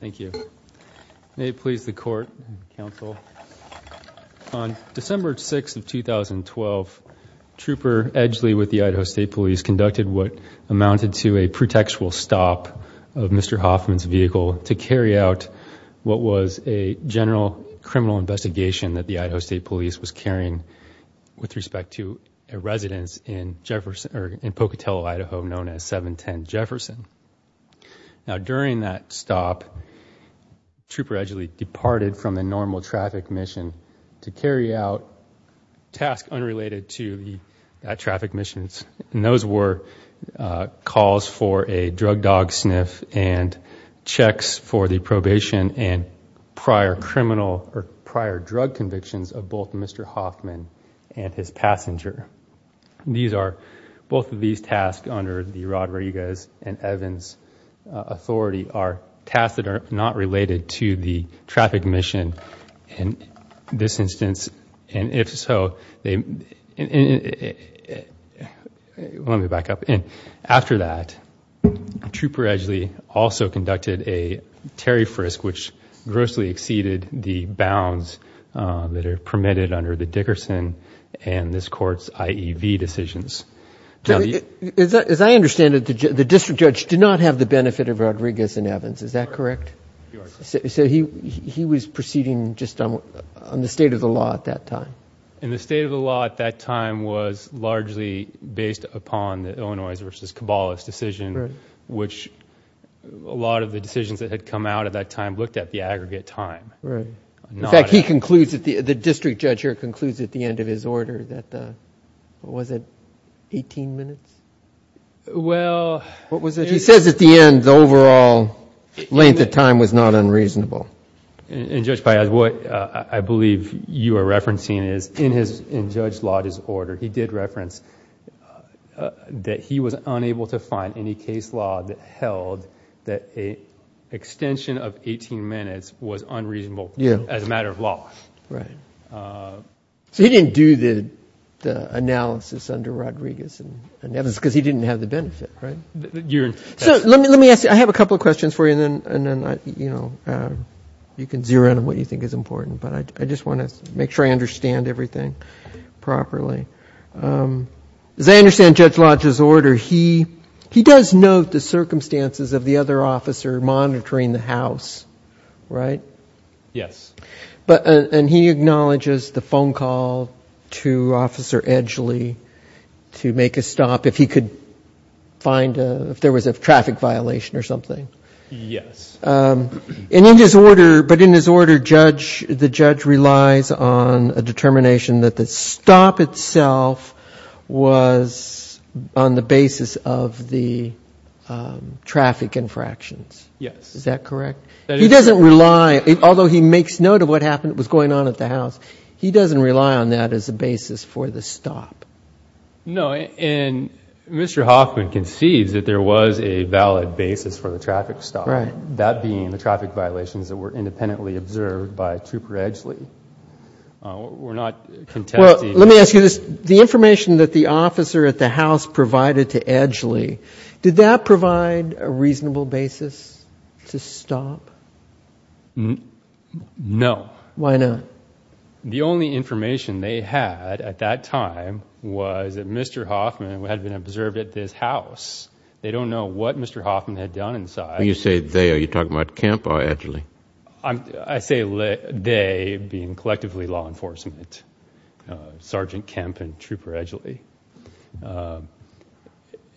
Thank you. May it please the court and counsel, on December 6th of 2012, Trooper Edgley with the Idaho State Police conducted what amounted to a pretextual stop of Mr. Hoffman's vehicle to carry out what was a general criminal investigation that the Idaho State Police was carrying with respect to a residence in Jefferson, or in Pocatello, Idaho, known as 710 Jefferson. Now, during that stop, Trooper Edgley departed from the normal traffic mission to carry out tasks unrelated to the traffic missions, and those were calls for a drug dog sniff and checks for the probation and prior criminal or prior drug convictions of both Mr. Hoffman and his passenger. These are, both of these tasks under the Rodriguez and Evans authority are tasks that are not related to the traffic mission in this instance, and if so, let me back up. After that, Trooper Edgley also conducted a Terry Frisk, which grossly exceeded the this Court's IEV decisions. Robert Adler As I understand it, the district judge did not have the benefit of Rodriguez and Evans, is that correct? So he was proceeding just on the state of the law at that time. Troy Adler And the state of the law at that time was largely based upon the Illinois v. Cabalas decision, which a lot of the decisions that had come out at that time looked at the aggregate time. In fact, the district judge here concludes at the end of his order that, what was it, 18 minutes? He says at the end, the overall length of time was not unreasonable. Robert Adler And Judge Piazza, what I believe you are referencing is in Judge Lauda's order, he did reference that he was unable to find any case law that held that an extension of as a matter of law. So he didn't do the analysis under Rodriguez and Evans because he didn't have the benefit, right? So let me ask you, I have a couple of questions for you and then you can zero in on what you think is important, but I just want to make sure I understand everything properly. As I understand Judge Lauda's order, he does note the circumstances of the other officer monitoring the house, right? Yes. And he acknowledges the phone call to Officer Edgley to make a stop if he could find a, if there was a traffic violation or something. Yes. And in his order, but in his order, the judge relies on a determination that the stop itself was on the basis of the traffic infractions. Yes. Is that correct? He doesn't rely, although he makes note of what happened, what was going on at the house, he doesn't rely on that as a basis for the stop. No. And Mr. Hoffman concedes that there was a valid basis for the traffic stop. Right. That being the traffic violations that were independently observed by Trooper Edgley. We're not contesting. Well, let me ask you this. The information that the officer at the house provided to Edgley, did that provide a reasonable basis to stop? No. Why not? The only information they had at that time was that Mr. Hoffman had been observed at this house. They don't know what Mr. Hoffman had done inside. When you say they, are you talking about Kemp or Edgley? I say they being collectively law enforcement. Sergeant Kemp and Trooper Edgley.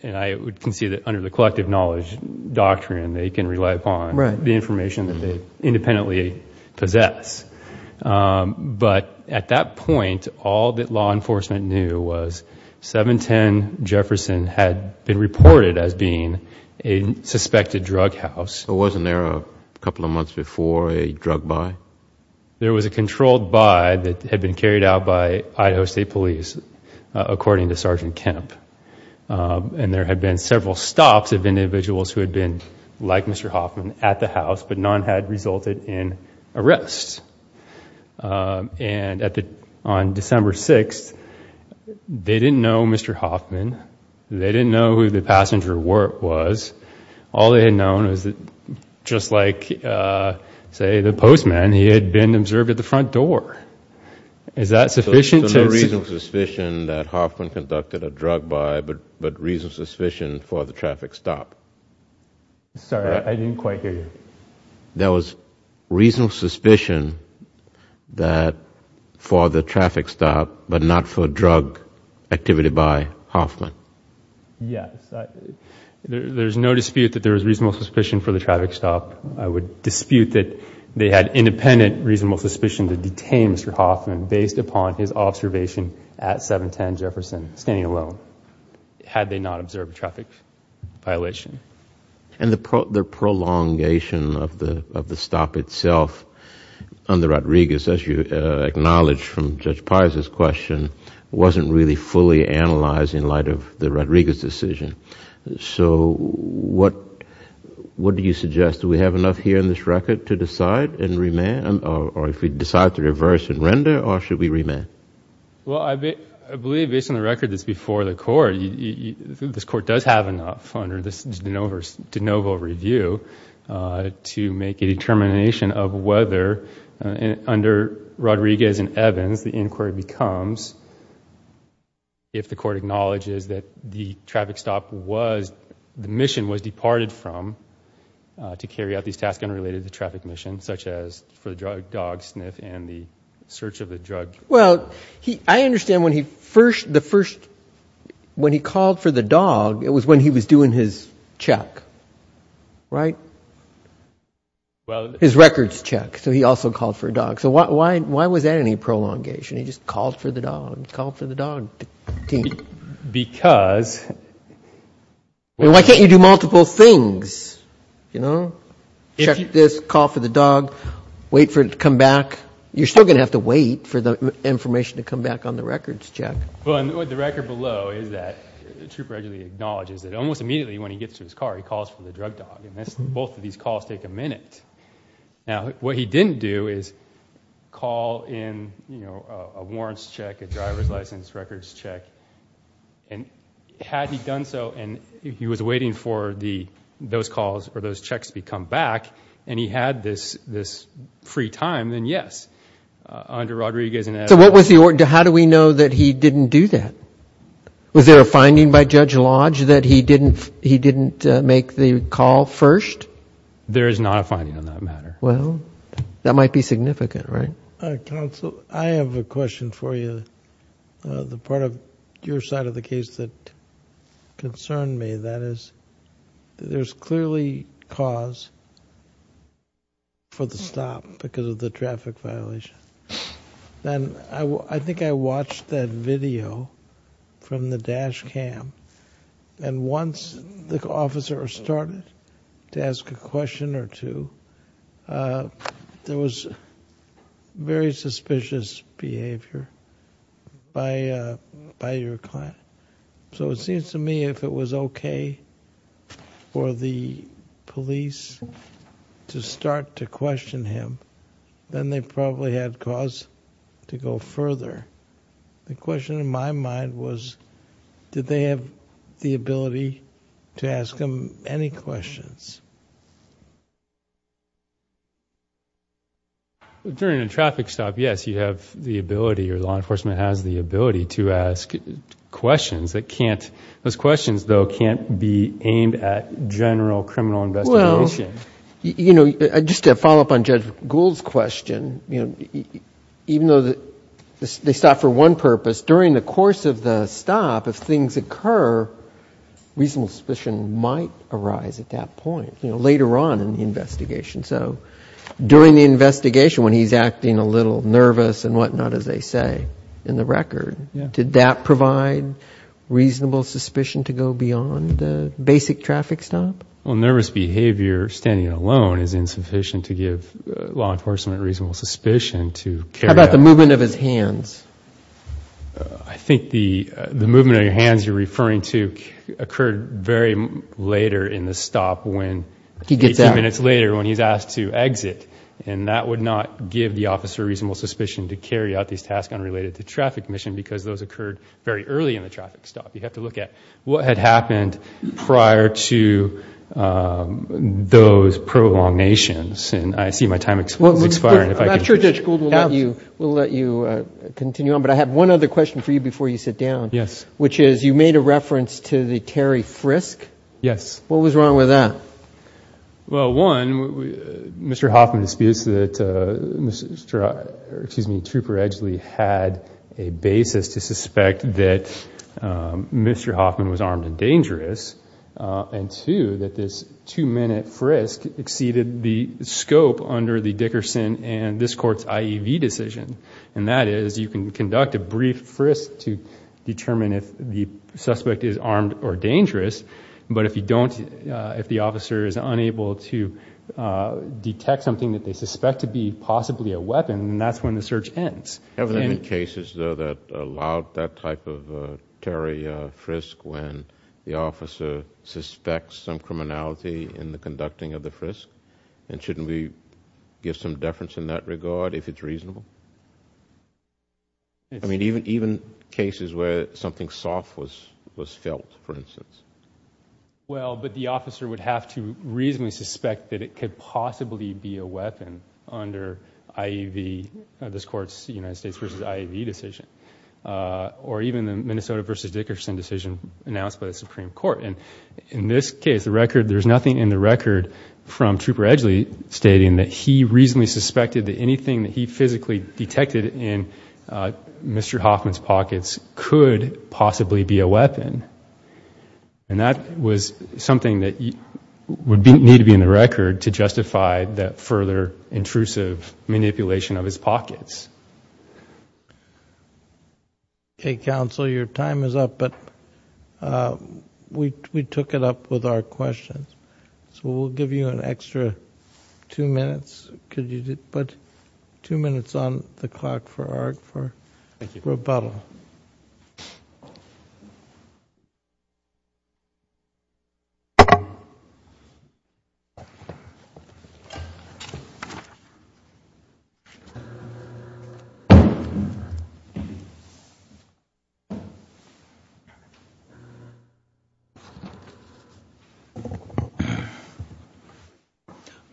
And I would concede that under the collective knowledge doctrine, they can rely upon the information that they independently possess. But at that point, all that law enforcement knew was 710 Jefferson had been reported as being a suspected drug house. Wasn't there a couple of months before a drug buy? There was a controlled buy that had been carried out by Idaho State Police, according to Sergeant Kemp. And there had been several stops of individuals who had been like Mr. Hoffman at the house, but none had resulted in arrests. And on December 6th, they didn't know Mr. Hoffman. They didn't know who the passenger was. All they had known was that just like, say, the postman, he had been observed at the front door. Is that sufficient? So no reasonable suspicion that Hoffman conducted a drug buy, but reasonable suspicion for the traffic stop? Sorry, I didn't quite hear you. There was reasonable suspicion for the traffic stop, but not for drug activity by Hoffman? Yes. There's no dispute that there was reasonable suspicion for the traffic stop. I would dispute that they had independent reasonable suspicion to detain Mr. Hoffman based upon his observation at 710 Jefferson, standing alone, had they not observed a traffic violation. And the prolongation of the stop itself under Rodriguez, as you acknowledged from Judge Pizer's question, wasn't really fully analyzed in light of the Rodriguez decision. So what do you suggest? Do we have enough here in this record to decide and remand, or if we decide to reverse and render, or should we remand? Well, I believe based on the record that's before the court, this court does have enough under this de novo review to make a determination of whether, under Rodriguez and Evans, the inquiry becomes if the court acknowledges that the traffic stop was, the mission was departed from to carry out these tasks unrelated to the traffic mission, such as for the dog sniff and the search of the drug. Well, I understand when he first, the first, when he called for the dog, it was when he was doing his check, right? His records check. So he also called for a dog. So why was that any prolongation? He just called for the dog, called for the dog. Because. Why can't you do multiple things, you know? Check this, call for the dog, wait for it to come back. You're still going to have to wait for the information to come back on the records check. Well, the record below is that the trooper actually acknowledges that almost immediately when he gets to his car, he calls for the drug dog. And both of these calls take a minute. Now, what he didn't do is call in, you know, a warrants check, a driver's license records check. And had he done so and he was waiting for the, those calls or those checks to come back and he had this, this free time, then yes, under Rodriguez. So what was the order? How do we know that he didn't do that? Was there a finding by Judge Lodge that he didn't, he didn't make the call first? There is not a finding on that matter. Well, that might be significant, right? Counsel, I have a question for you. The part of your side of the case that concerned me, that is, there's clearly cause for the stop because of the traffic violation. And I think I watched that video from the dash cam. And once the officer started to ask a question or two, there was very suspicious behavior by, by your client. So it seems to me if it was okay for the police to start to question him, then they probably had cause to go further. The question in my mind was, did they have the ability to ask him any questions? During a traffic stop, yes, you have the ability or law enforcement has the ability to ask questions that can't, those questions though can't be aimed at general criminal investigation. You know, just to follow up on Judge Gould's question, you know, even though they stop for one purpose, during the course of the stop, if things occur, reasonable suspicion might arise at that point, you know, later on in the investigation. So during the investigation when he's acting a little nervous and whatnot, as they say in the record, did that provide reasonable suspicion to go beyond the basic traffic stop? Well, nervous behavior standing alone is insufficient to give law enforcement reasonable suspicion to carry out. How about the movement of his hands? I think the movement of your hands you're referring to occurred very later in the stop when, 18 minutes later when he's asked to exit. And that would not give the officer reasonable suspicion to carry out these tasks unrelated to traffic mission because those occurred very early in the traffic stop. You have to look at what had happened prior to those prolongations. And I see my time is expiring. I'm not sure Judge Gould will let you continue on, but I have one other question for you before you sit down. Yes. Which is you made a reference to the Terry Frisk. Yes. What was wrong with that? Well, one, Mr. Hoffman disputes that Trooper Edgeley had a basis to suspect that Mr. Hoffman was armed and dangerous, and two, that this two-minute frisk exceeded the scope under the Dickerson and this Court's IEV decision, and that is you can conduct a brief frisk to determine if the suspect is armed or dangerous, but if you don't, if the officer is unable to detect something that they suspect to be possibly a weapon, then that's when the search ends. Haven't there been cases, though, that allowed that type of Terry Frisk when the officer suspects some criminality in the conducting of the frisk? And shouldn't we give some deference in that regard if it's reasonable? I mean, even cases where something soft was felt, for instance. Well, but the officer would have to reasonably suspect that it could possibly be a weapon under IEV, this Court's United States v. IEV decision, or even the Minnesota v. Dickerson decision announced by the Supreme Court. And in this case, the record, there's nothing in the record from Trooper Edgeley stating that he reasonably suspected that anything that he physically detected in Mr. Hoffman's pockets could possibly be a weapon. And that was something that would need to be in the record to justify that further intrusive manipulation of his pockets. Okay, counsel, your time is up, but we took it up with our questions. So we'll give you an extra two minutes. Could you put two minutes on the clock for our rebuttal?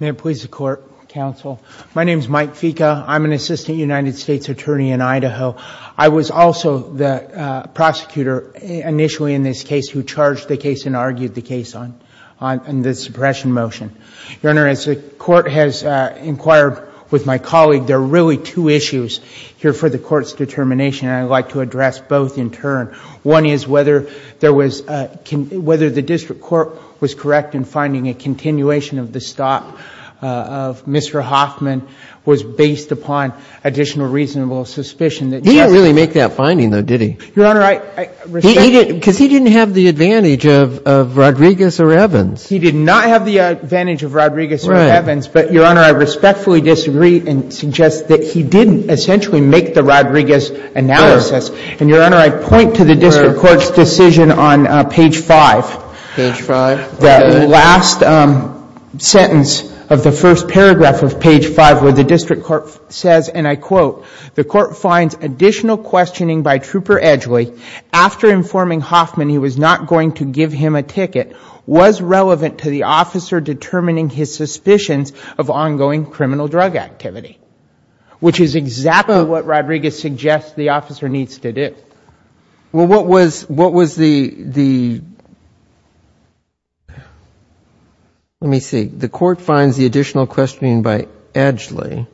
May it please the Court, counsel. My name is Mike Fica. I'm an assistant United States attorney in Idaho. I was also the prosecutor initially in this case who charged the case and argued the case on the suppression motion. Your Honor, as the Court has inquired with my colleague, there are really two issues here for the Court's determination, and I'd like to address both in turn. One is whether there was — whether the district court was correct in finding a continuation of the stop of Mr. Hoffman was based upon additional reasonable suspicion that just — He didn't really make that finding, though, did he? Your Honor, I — Because he didn't have the advantage of Rodriguez or Evans. He did not have the advantage of Rodriguez or Evans, but, Your Honor, I respectfully disagree and suggest that he didn't essentially make the Rodriguez analysis. And, Your Honor, I point to the district court's decision on page 5. Page 5. The last sentence of the first paragraph of page 5 where the district court says, and I quote, the court finds additional questioning by Trooper Edgeley after informing Hoffman he was not going to give him a ticket was relevant to the officer determining his suspicions of ongoing criminal drug activity, which is exactly what Rodriguez suggests the officer needs to do. Well, what was the — let me see. The court finds the additional questioning by Edgeley.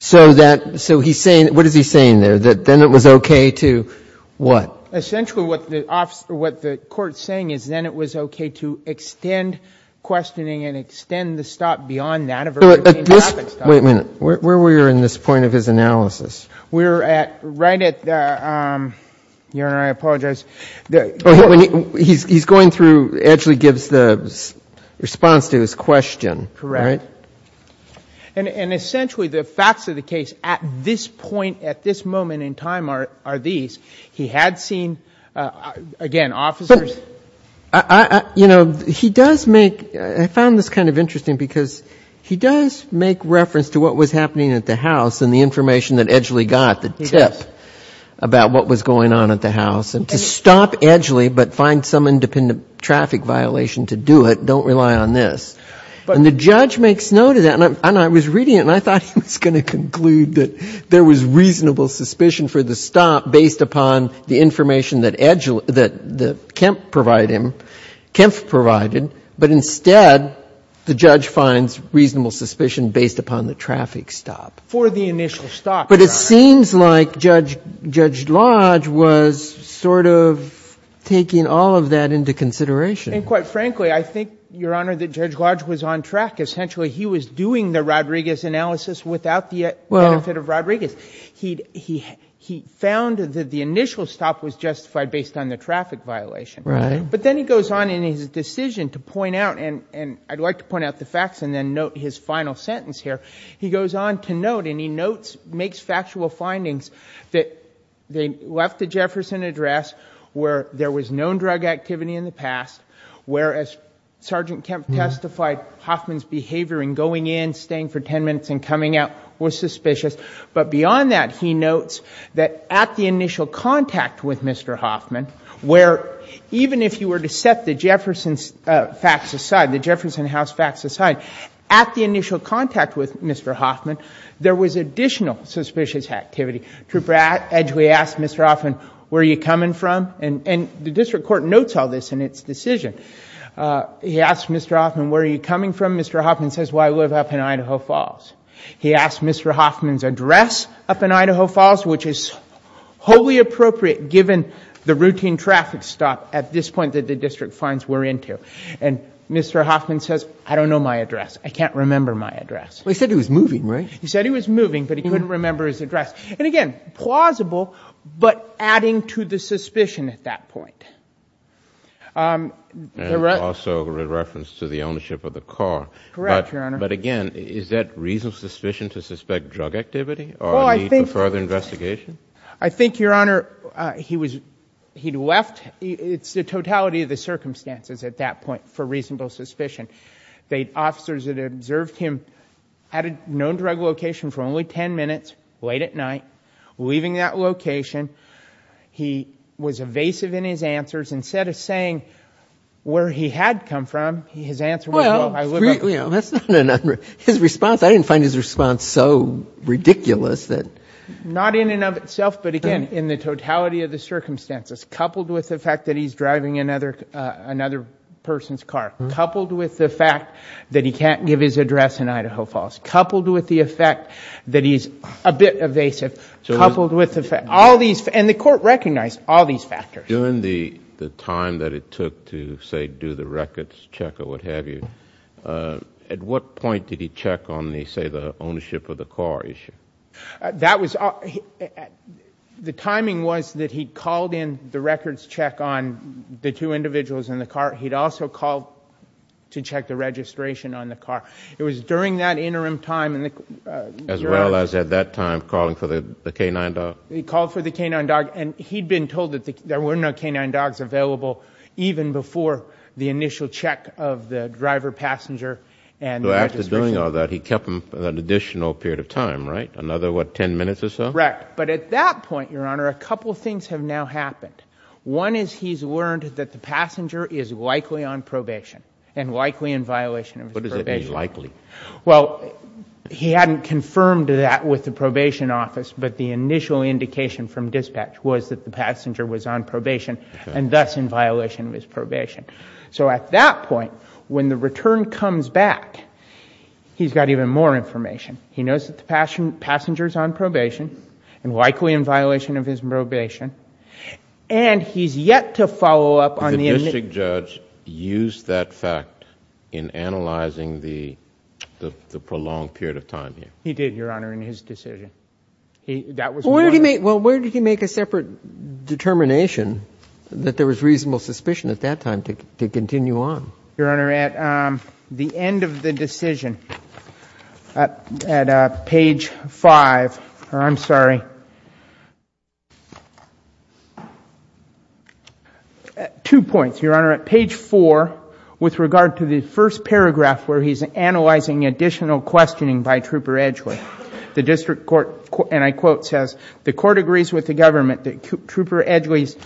So that — so he's saying — what is he saying there? That then it was okay to what? Well, essentially what the court is saying is then it was okay to extend questioning and extend the stop beyond that of a routine traffic stop. Wait a minute. Where were you in this point of his analysis? We're at — right at the — Your Honor, I apologize. He's going through — Edgeley gives the response to his question, right? Correct. And essentially the facts of the case at this point, at this moment in time are these. He had seen, again, officers. But, you know, he does make — I found this kind of interesting because he does make reference to what was happening at the house and the information that Edgeley got, the tip about what was going on at the house. And to stop Edgeley but find some independent traffic violation to do it, don't rely on this. And the judge makes note of that, and I was reading it and I thought he was going to conclude that there was reasonable suspicion for the stop based upon the information that Edgeley — that Kemp provided him — Kemp provided, but instead the judge finds reasonable suspicion based upon the traffic stop. For the initial stop, Your Honor. But it seems like Judge Lodge was sort of taking all of that into consideration. And quite frankly, I think, Your Honor, that Judge Lodge was on track. Essentially he was doing the Rodriguez analysis without the benefit of Rodriguez. He found that the initial stop was justified based on the traffic violation. Right. But then he goes on in his decision to point out — and I'd like to point out the facts and then note his final sentence here. He goes on to note and he notes, makes factual findings that they left the Jefferson address where there was known drug activity in the past, whereas Sergeant Kemp testified Hoffman's behavior in going in, staying for 10 minutes, and coming out was suspicious. But beyond that, he notes that at the initial contact with Mr. Hoffman, where even if you were to set the Jefferson facts aside, the Jefferson House facts aside, at the initial contact with Mr. Hoffman, there was additional suspicious activity. Trooper Edgeway asked Mr. Hoffman, where are you coming from? And the district court notes all this in its decision. He asked Mr. Hoffman, where are you coming from? Mr. Hoffman says, well, I live up in Idaho Falls. He asked Mr. Hoffman's address up in Idaho Falls, which is wholly appropriate given the routine traffic stop at this point that the district fines were into. And Mr. Hoffman says, I don't know my address. I can't remember my address. Well, he said he was moving, right? He said he was moving, but he couldn't remember his address. And again, plausible, but adding to the suspicion at that point. And also a reference to the ownership of the car. Correct, Your Honor. But again, is that reasonable suspicion to suspect drug activity or a need for further investigation? I think, Your Honor, he'd left. It's the totality of the circumstances at that point for reasonable suspicion. The officers that observed him had a known drug location for only ten minutes, late at night, leaving that location. He was evasive in his answers. Instead of saying where he had come from, his answer was, well, I live up. Well, you know, that's not an unreasonable response. I didn't find his response so ridiculous. Not in and of itself, but again, in the totality of the circumstances, coupled with the fact that he's driving another person's car, coupled with the fact that he can't give his address in Idaho Falls, coupled with the effect that he's a bit evasive, coupled with all these. And the court recognized all these factors. During the time that it took to, say, do the records check or what have you, at what point did he check on, say, the ownership of the car issue? The timing was that he called in the records check on the two individuals in the car. He'd also called to check the registration on the car. It was during that interim time. As well as at that time calling for the canine dog? He called for the canine dog, and he'd been told that there were no canine dogs available even before the initial check of the driver, passenger, and registration. So after doing all that, he kept them for an additional period of time, right? Another, what, ten minutes or so? Correct. But at that point, Your Honor, a couple things have now happened. One is he's learned that the passenger is likely on probation and likely in violation of his probation. What does that mean, likely? Well, he hadn't confirmed that with the probation office, but the initial indication from dispatch was that the passenger was on probation and thus in violation of his probation. So at that point, when the return comes back, he's got even more information. He knows that the passenger is on probation and likely in violation of his probation, and he's yet to follow up on the initial ---- Did the district judge use that fact in analyzing the prolonged period of time here? He did, Your Honor, in his decision. That was one of the ---- Well, where did he make a separate determination that there was reasonable suspicion at that time to continue on? Your Honor, at the end of the decision, at page 5, or I'm sorry, two points. Your Honor, at page 4, with regard to the first paragraph where he's analyzing additional questioning by Trooper Edgeley, the district court, and I quote, says, the court agrees with the government that Trooper Edgeley's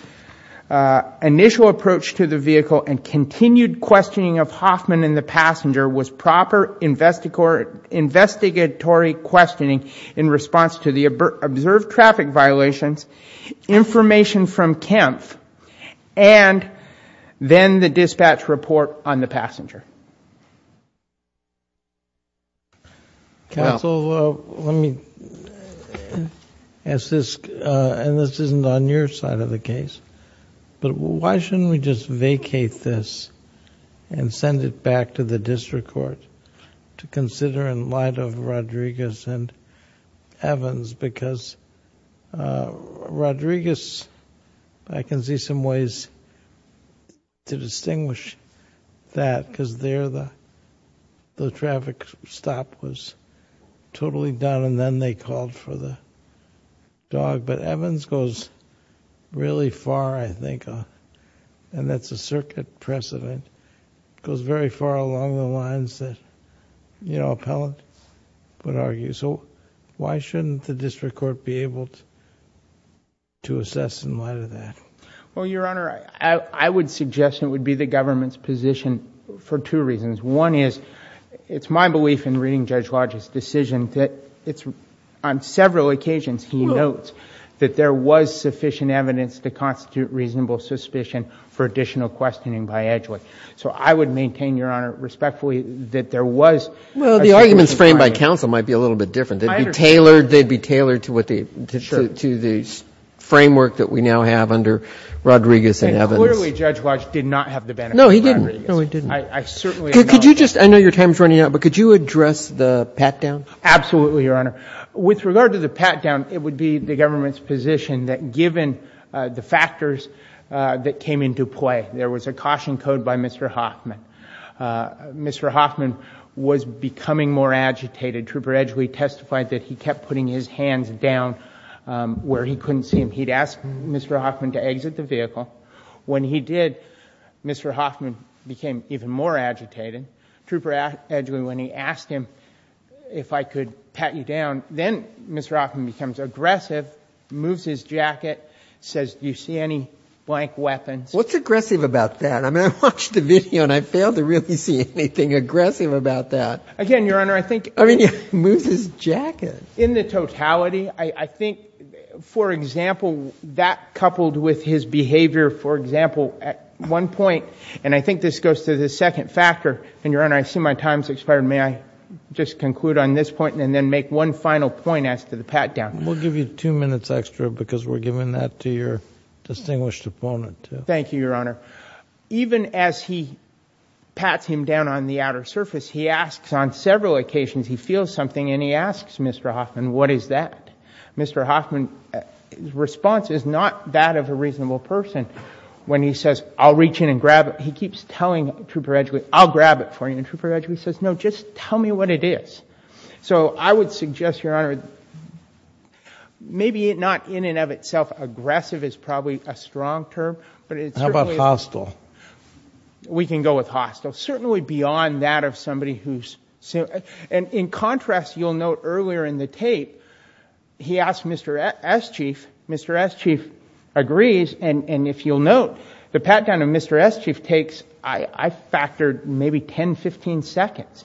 initial approach to the vehicle and continued questioning of Hoffman and the passenger was proper investigatory questioning in response to the observed traffic violations, information from Kempf, and then the dispatch report on the passenger. Counsel, let me ask this, and this isn't on your side of the case, but why shouldn't we just vacate this and send it back to the district court to consider in light of Rodriguez and Evans? Because Rodriguez, I can see some ways to distinguish that because there the traffic stop was totally done and then they called for the dog. But Evans goes really far, I think, and that's a circuit precedent, goes very far along the lines that an appellant would argue. So why shouldn't the district court be able to assess in light of that? Well, Your Honor, I would suggest it would be the government's position for two reasons. One is it's my belief in reading Judge Lodge's decision that it's on several occasions he notes that there was sufficient evidence to constitute reasonable suspicion for additional questioning by Edgeley. So I would maintain, Your Honor, respectfully, that there was... Well, the arguments framed by counsel might be a little bit different. I understand. They'd be tailored to the framework that we now have under Rodriguez and Evans. And clearly Judge Lodge did not have the benefit of Rodriguez. No, he didn't. No, he didn't. I certainly acknowledge... Could you just, I know your time is running out, but could you address the pat-down? Absolutely, Your Honor. With regard to the pat-down, it would be the government's position that given the factors that came into play, there was a caution code by Mr. Hoffman. Mr. Hoffman was becoming more agitated. Trooper Edgeley testified that he kept putting his hands down where he couldn't see him. He'd asked Mr. Hoffman to exit the vehicle. When he did, Mr. Hoffman became even more agitated. Trooper Edgeley, when he asked him if I could pat you down, then Mr. Hoffman becomes aggressive, moves his jacket, says, do you see any blank weapons? What's aggressive about that? I mean, I watched the video and I failed to really see anything aggressive about that. Again, Your Honor, I think... I mean, he moves his jacket. In the totality, I think, for example, that coupled with his behavior, for example, at one point, and I think this goes to the second factor, and, Your Honor, I assume my time has expired. May I just conclude on this point and then make one final point as to the pat-down? We'll give you two minutes extra because we're giving that to your distinguished opponent. Thank you, Your Honor. Even as he pats him down on the outer surface, he asks on several occasions, he feels something, and he asks Mr. Hoffman, what is that? Mr. Hoffman's response is not that of a reasonable person. When he says, I'll reach in and grab it, he keeps telling Trooper Edgeley, I'll grab it for you, and Trooper Edgeley says, no, just tell me what it is. So I would suggest, Your Honor, maybe not in and of itself aggressive is probably a strong term, but it certainly is. How about hostile? We can go with hostile. Certainly beyond that of somebody who's, and in contrast, you'll note earlier in the tape, he asked Mr. S. Chief. Mr. S. Chief agrees, and if you'll note, the pat-down of Mr. S. Chief takes, I factored, maybe 10, 15 seconds.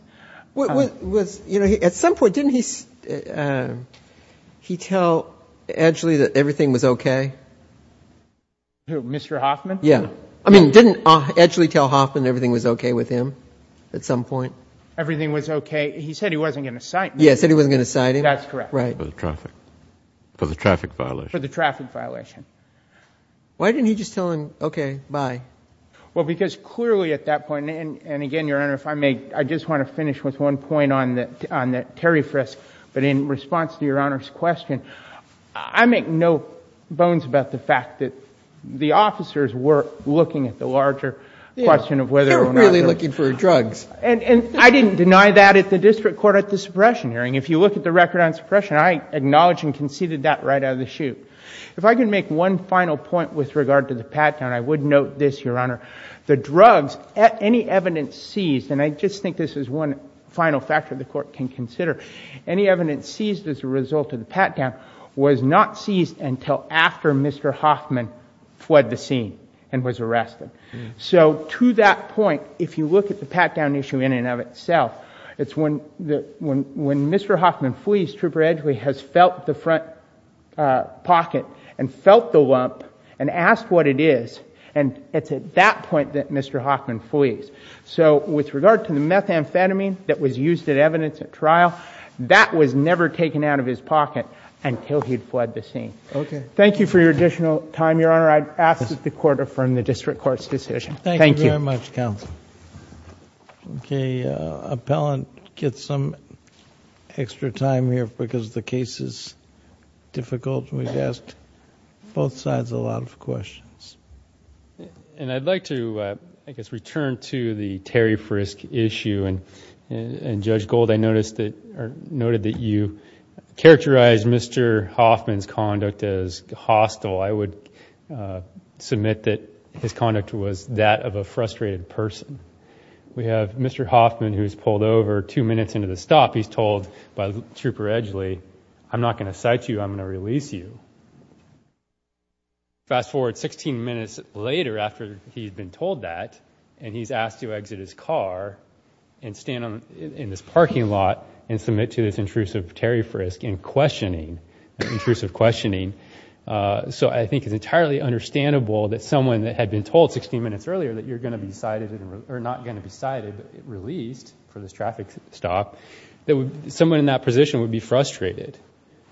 At some point didn't he tell Edgeley that everything was okay? Mr. Hoffman? Yeah. I mean, didn't Edgeley tell Hoffman everything was okay with him at some point? Everything was okay. He said he wasn't going to cite me. Yeah, he said he wasn't going to cite him. That's correct. Right. For the traffic violation. For the traffic violation. Why didn't he just tell him, okay, bye? Well, because clearly at that point, and again, Your Honor, if I may, I just want to finish with one point on that Terry frisk, but in response to Your Honor's question, I make no bones about the fact that the officers were looking at the larger question of whether or not... They were really looking for drugs. And I didn't deny that at the district court at the suppression hearing. If you look at the record on suppression, I acknowledge and conceded that right out of the chute. If I could make one final point with regard to the pat-down, I would note this, Your Honor, the drugs, any evidence seized, and I just think this is one final factor the court can consider, any evidence seized as a result of the pat-down was not seized until after Mr. Hoffman fled the scene and was arrested. So to that point, if you look at the pat-down issue in and of itself, it's when Mr. Hoffman flees, Trooper Edgeley has felt the front pocket and felt the lump and asked what it is, and it's at that point that Mr. Hoffman flees. So with regard to the methamphetamine that was used as evidence at trial, that was never taken out of his pocket until he'd fled the scene. Thank you for your additional time, Your Honor. I ask that the court affirm the district court's decision. Thank you. Thank you very much, counsel. Okay. Appellant gets some extra time here because the case is difficult. We've asked both sides a lot of questions. And I'd like to, I guess, return to the Terry Frisk issue. And, Judge Gold, I noticed that you characterized Mr. Hoffman's conduct as hostile. I would submit that his conduct was that of a frustrated person. We have Mr. Hoffman who's pulled over two minutes into the stop. He's told by Trooper Edgeley, I'm not going to cite you, I'm going to release you. Fast forward 16 minutes later after he's been told that, and he's asked to exit his car and stand in this parking lot and submit to this intrusive Terry Frisk in questioning, intrusive questioning. So I think it's entirely understandable that someone that had been told 16 minutes earlier that you're going to be cited or not going to be cited but released for this traffic stop, that someone in that position would be frustrated.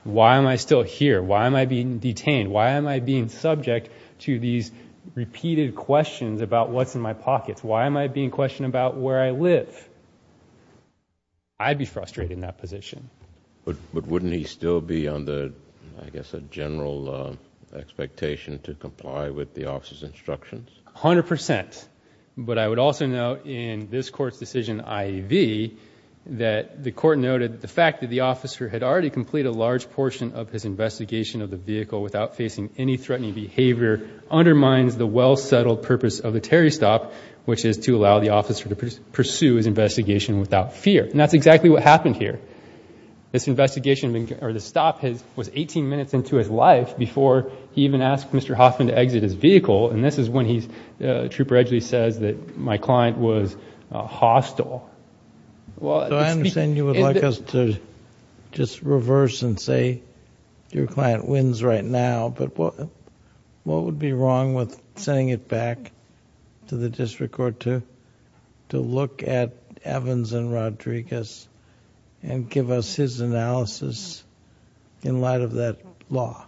Why am I still here? Why am I being detained? Why am I being subject to these repeated questions about what's in my pockets? Why am I being questioned about where I live? I'd be frustrated in that position. But wouldn't he still be under, I guess, a general expectation to comply with the officer's instructions? A hundred percent. But I would also note in this Court's decision, IEV, that the Court noted the fact that the officer had already completed a large portion of his investigation of the vehicle without facing any threatening behavior undermines the well-settled purpose of the Terry stop, which is to allow the officer to pursue his investigation without fear. And that's exactly what happened here. This investigation, or the stop, was 18 minutes into his life before he even asked Mr. Hoffman to exit his vehicle, and this is when Trooper Edgeley says that my client was hostile. Well, it's... So I understand you would like us to just reverse and say your client wins right now, but what would be wrong with sending it back to the district court to look at Evans and Rodriguez and give us his analysis in light of that law?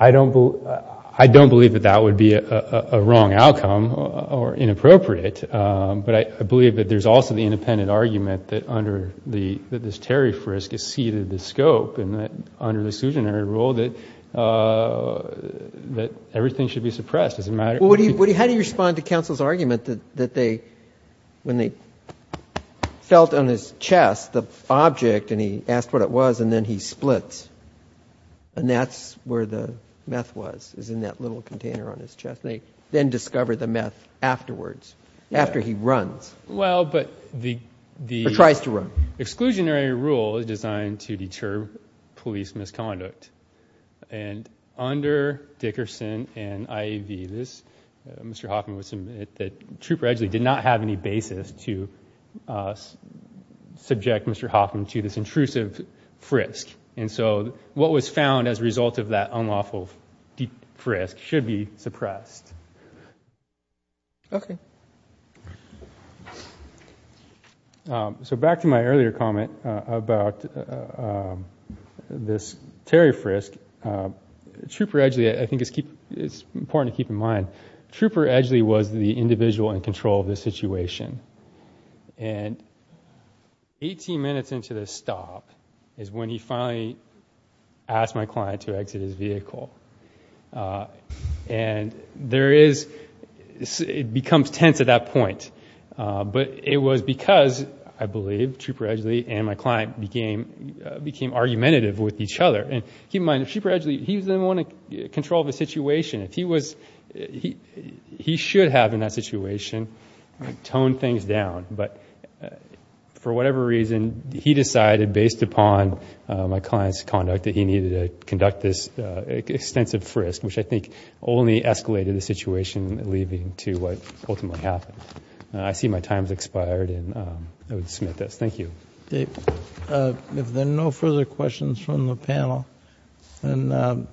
I don't believe that that would be a wrong outcome or inappropriate, but I believe that there's also the independent argument that under this Terry frisk is ceded the scope and that under the exclusionary rule that everything should be suppressed. How do you respond to counsel's argument that when they felt on his chest the object and he asked what it was and then he splits and that's where the meth was, is in that little container on his chest, and they then discover the meth afterwards, after he runs? Well, but the... Or tries to run. The exclusionary rule is designed to deter police misconduct, and under Dickerson and IAV, Mr. Hoffman would submit that Trooper Edgeley did not have any basis to subject Mr. Hoffman to this intrusive frisk, and so what was found as a result of that unlawful deep frisk should be suppressed. Okay. So back to my earlier comment about this Terry frisk, Trooper Edgeley I think is important to keep in mind. Trooper Edgeley was the individual in control of the situation, and 18 minutes into the stop is when he finally asked my client to exit his vehicle, and there is... it becomes tense at that point, but it was because, I believe, Trooper Edgeley and my client became argumentative with each other, and keep in mind, Trooper Edgeley, he was the one in control of the situation. If he was... he should have, in that situation, toned things down, but for whatever reason, he decided, based upon my client's conduct, that he needed to conduct this extensive frisk, which I think only escalated the situation leading to what ultimately happened. I see my time has expired, and I will submit this. Thank you. If there are no further questions from the panel, then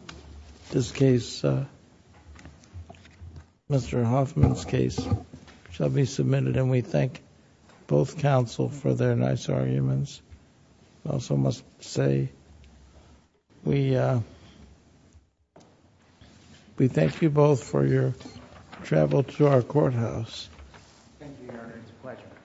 this case, Mr. Hoffman's case, shall be submitted, and we thank both counsel for their nice arguments. I also must say, we thank you both for your travel to our courthouse. Thank you, Your Honor. It's a pleasure.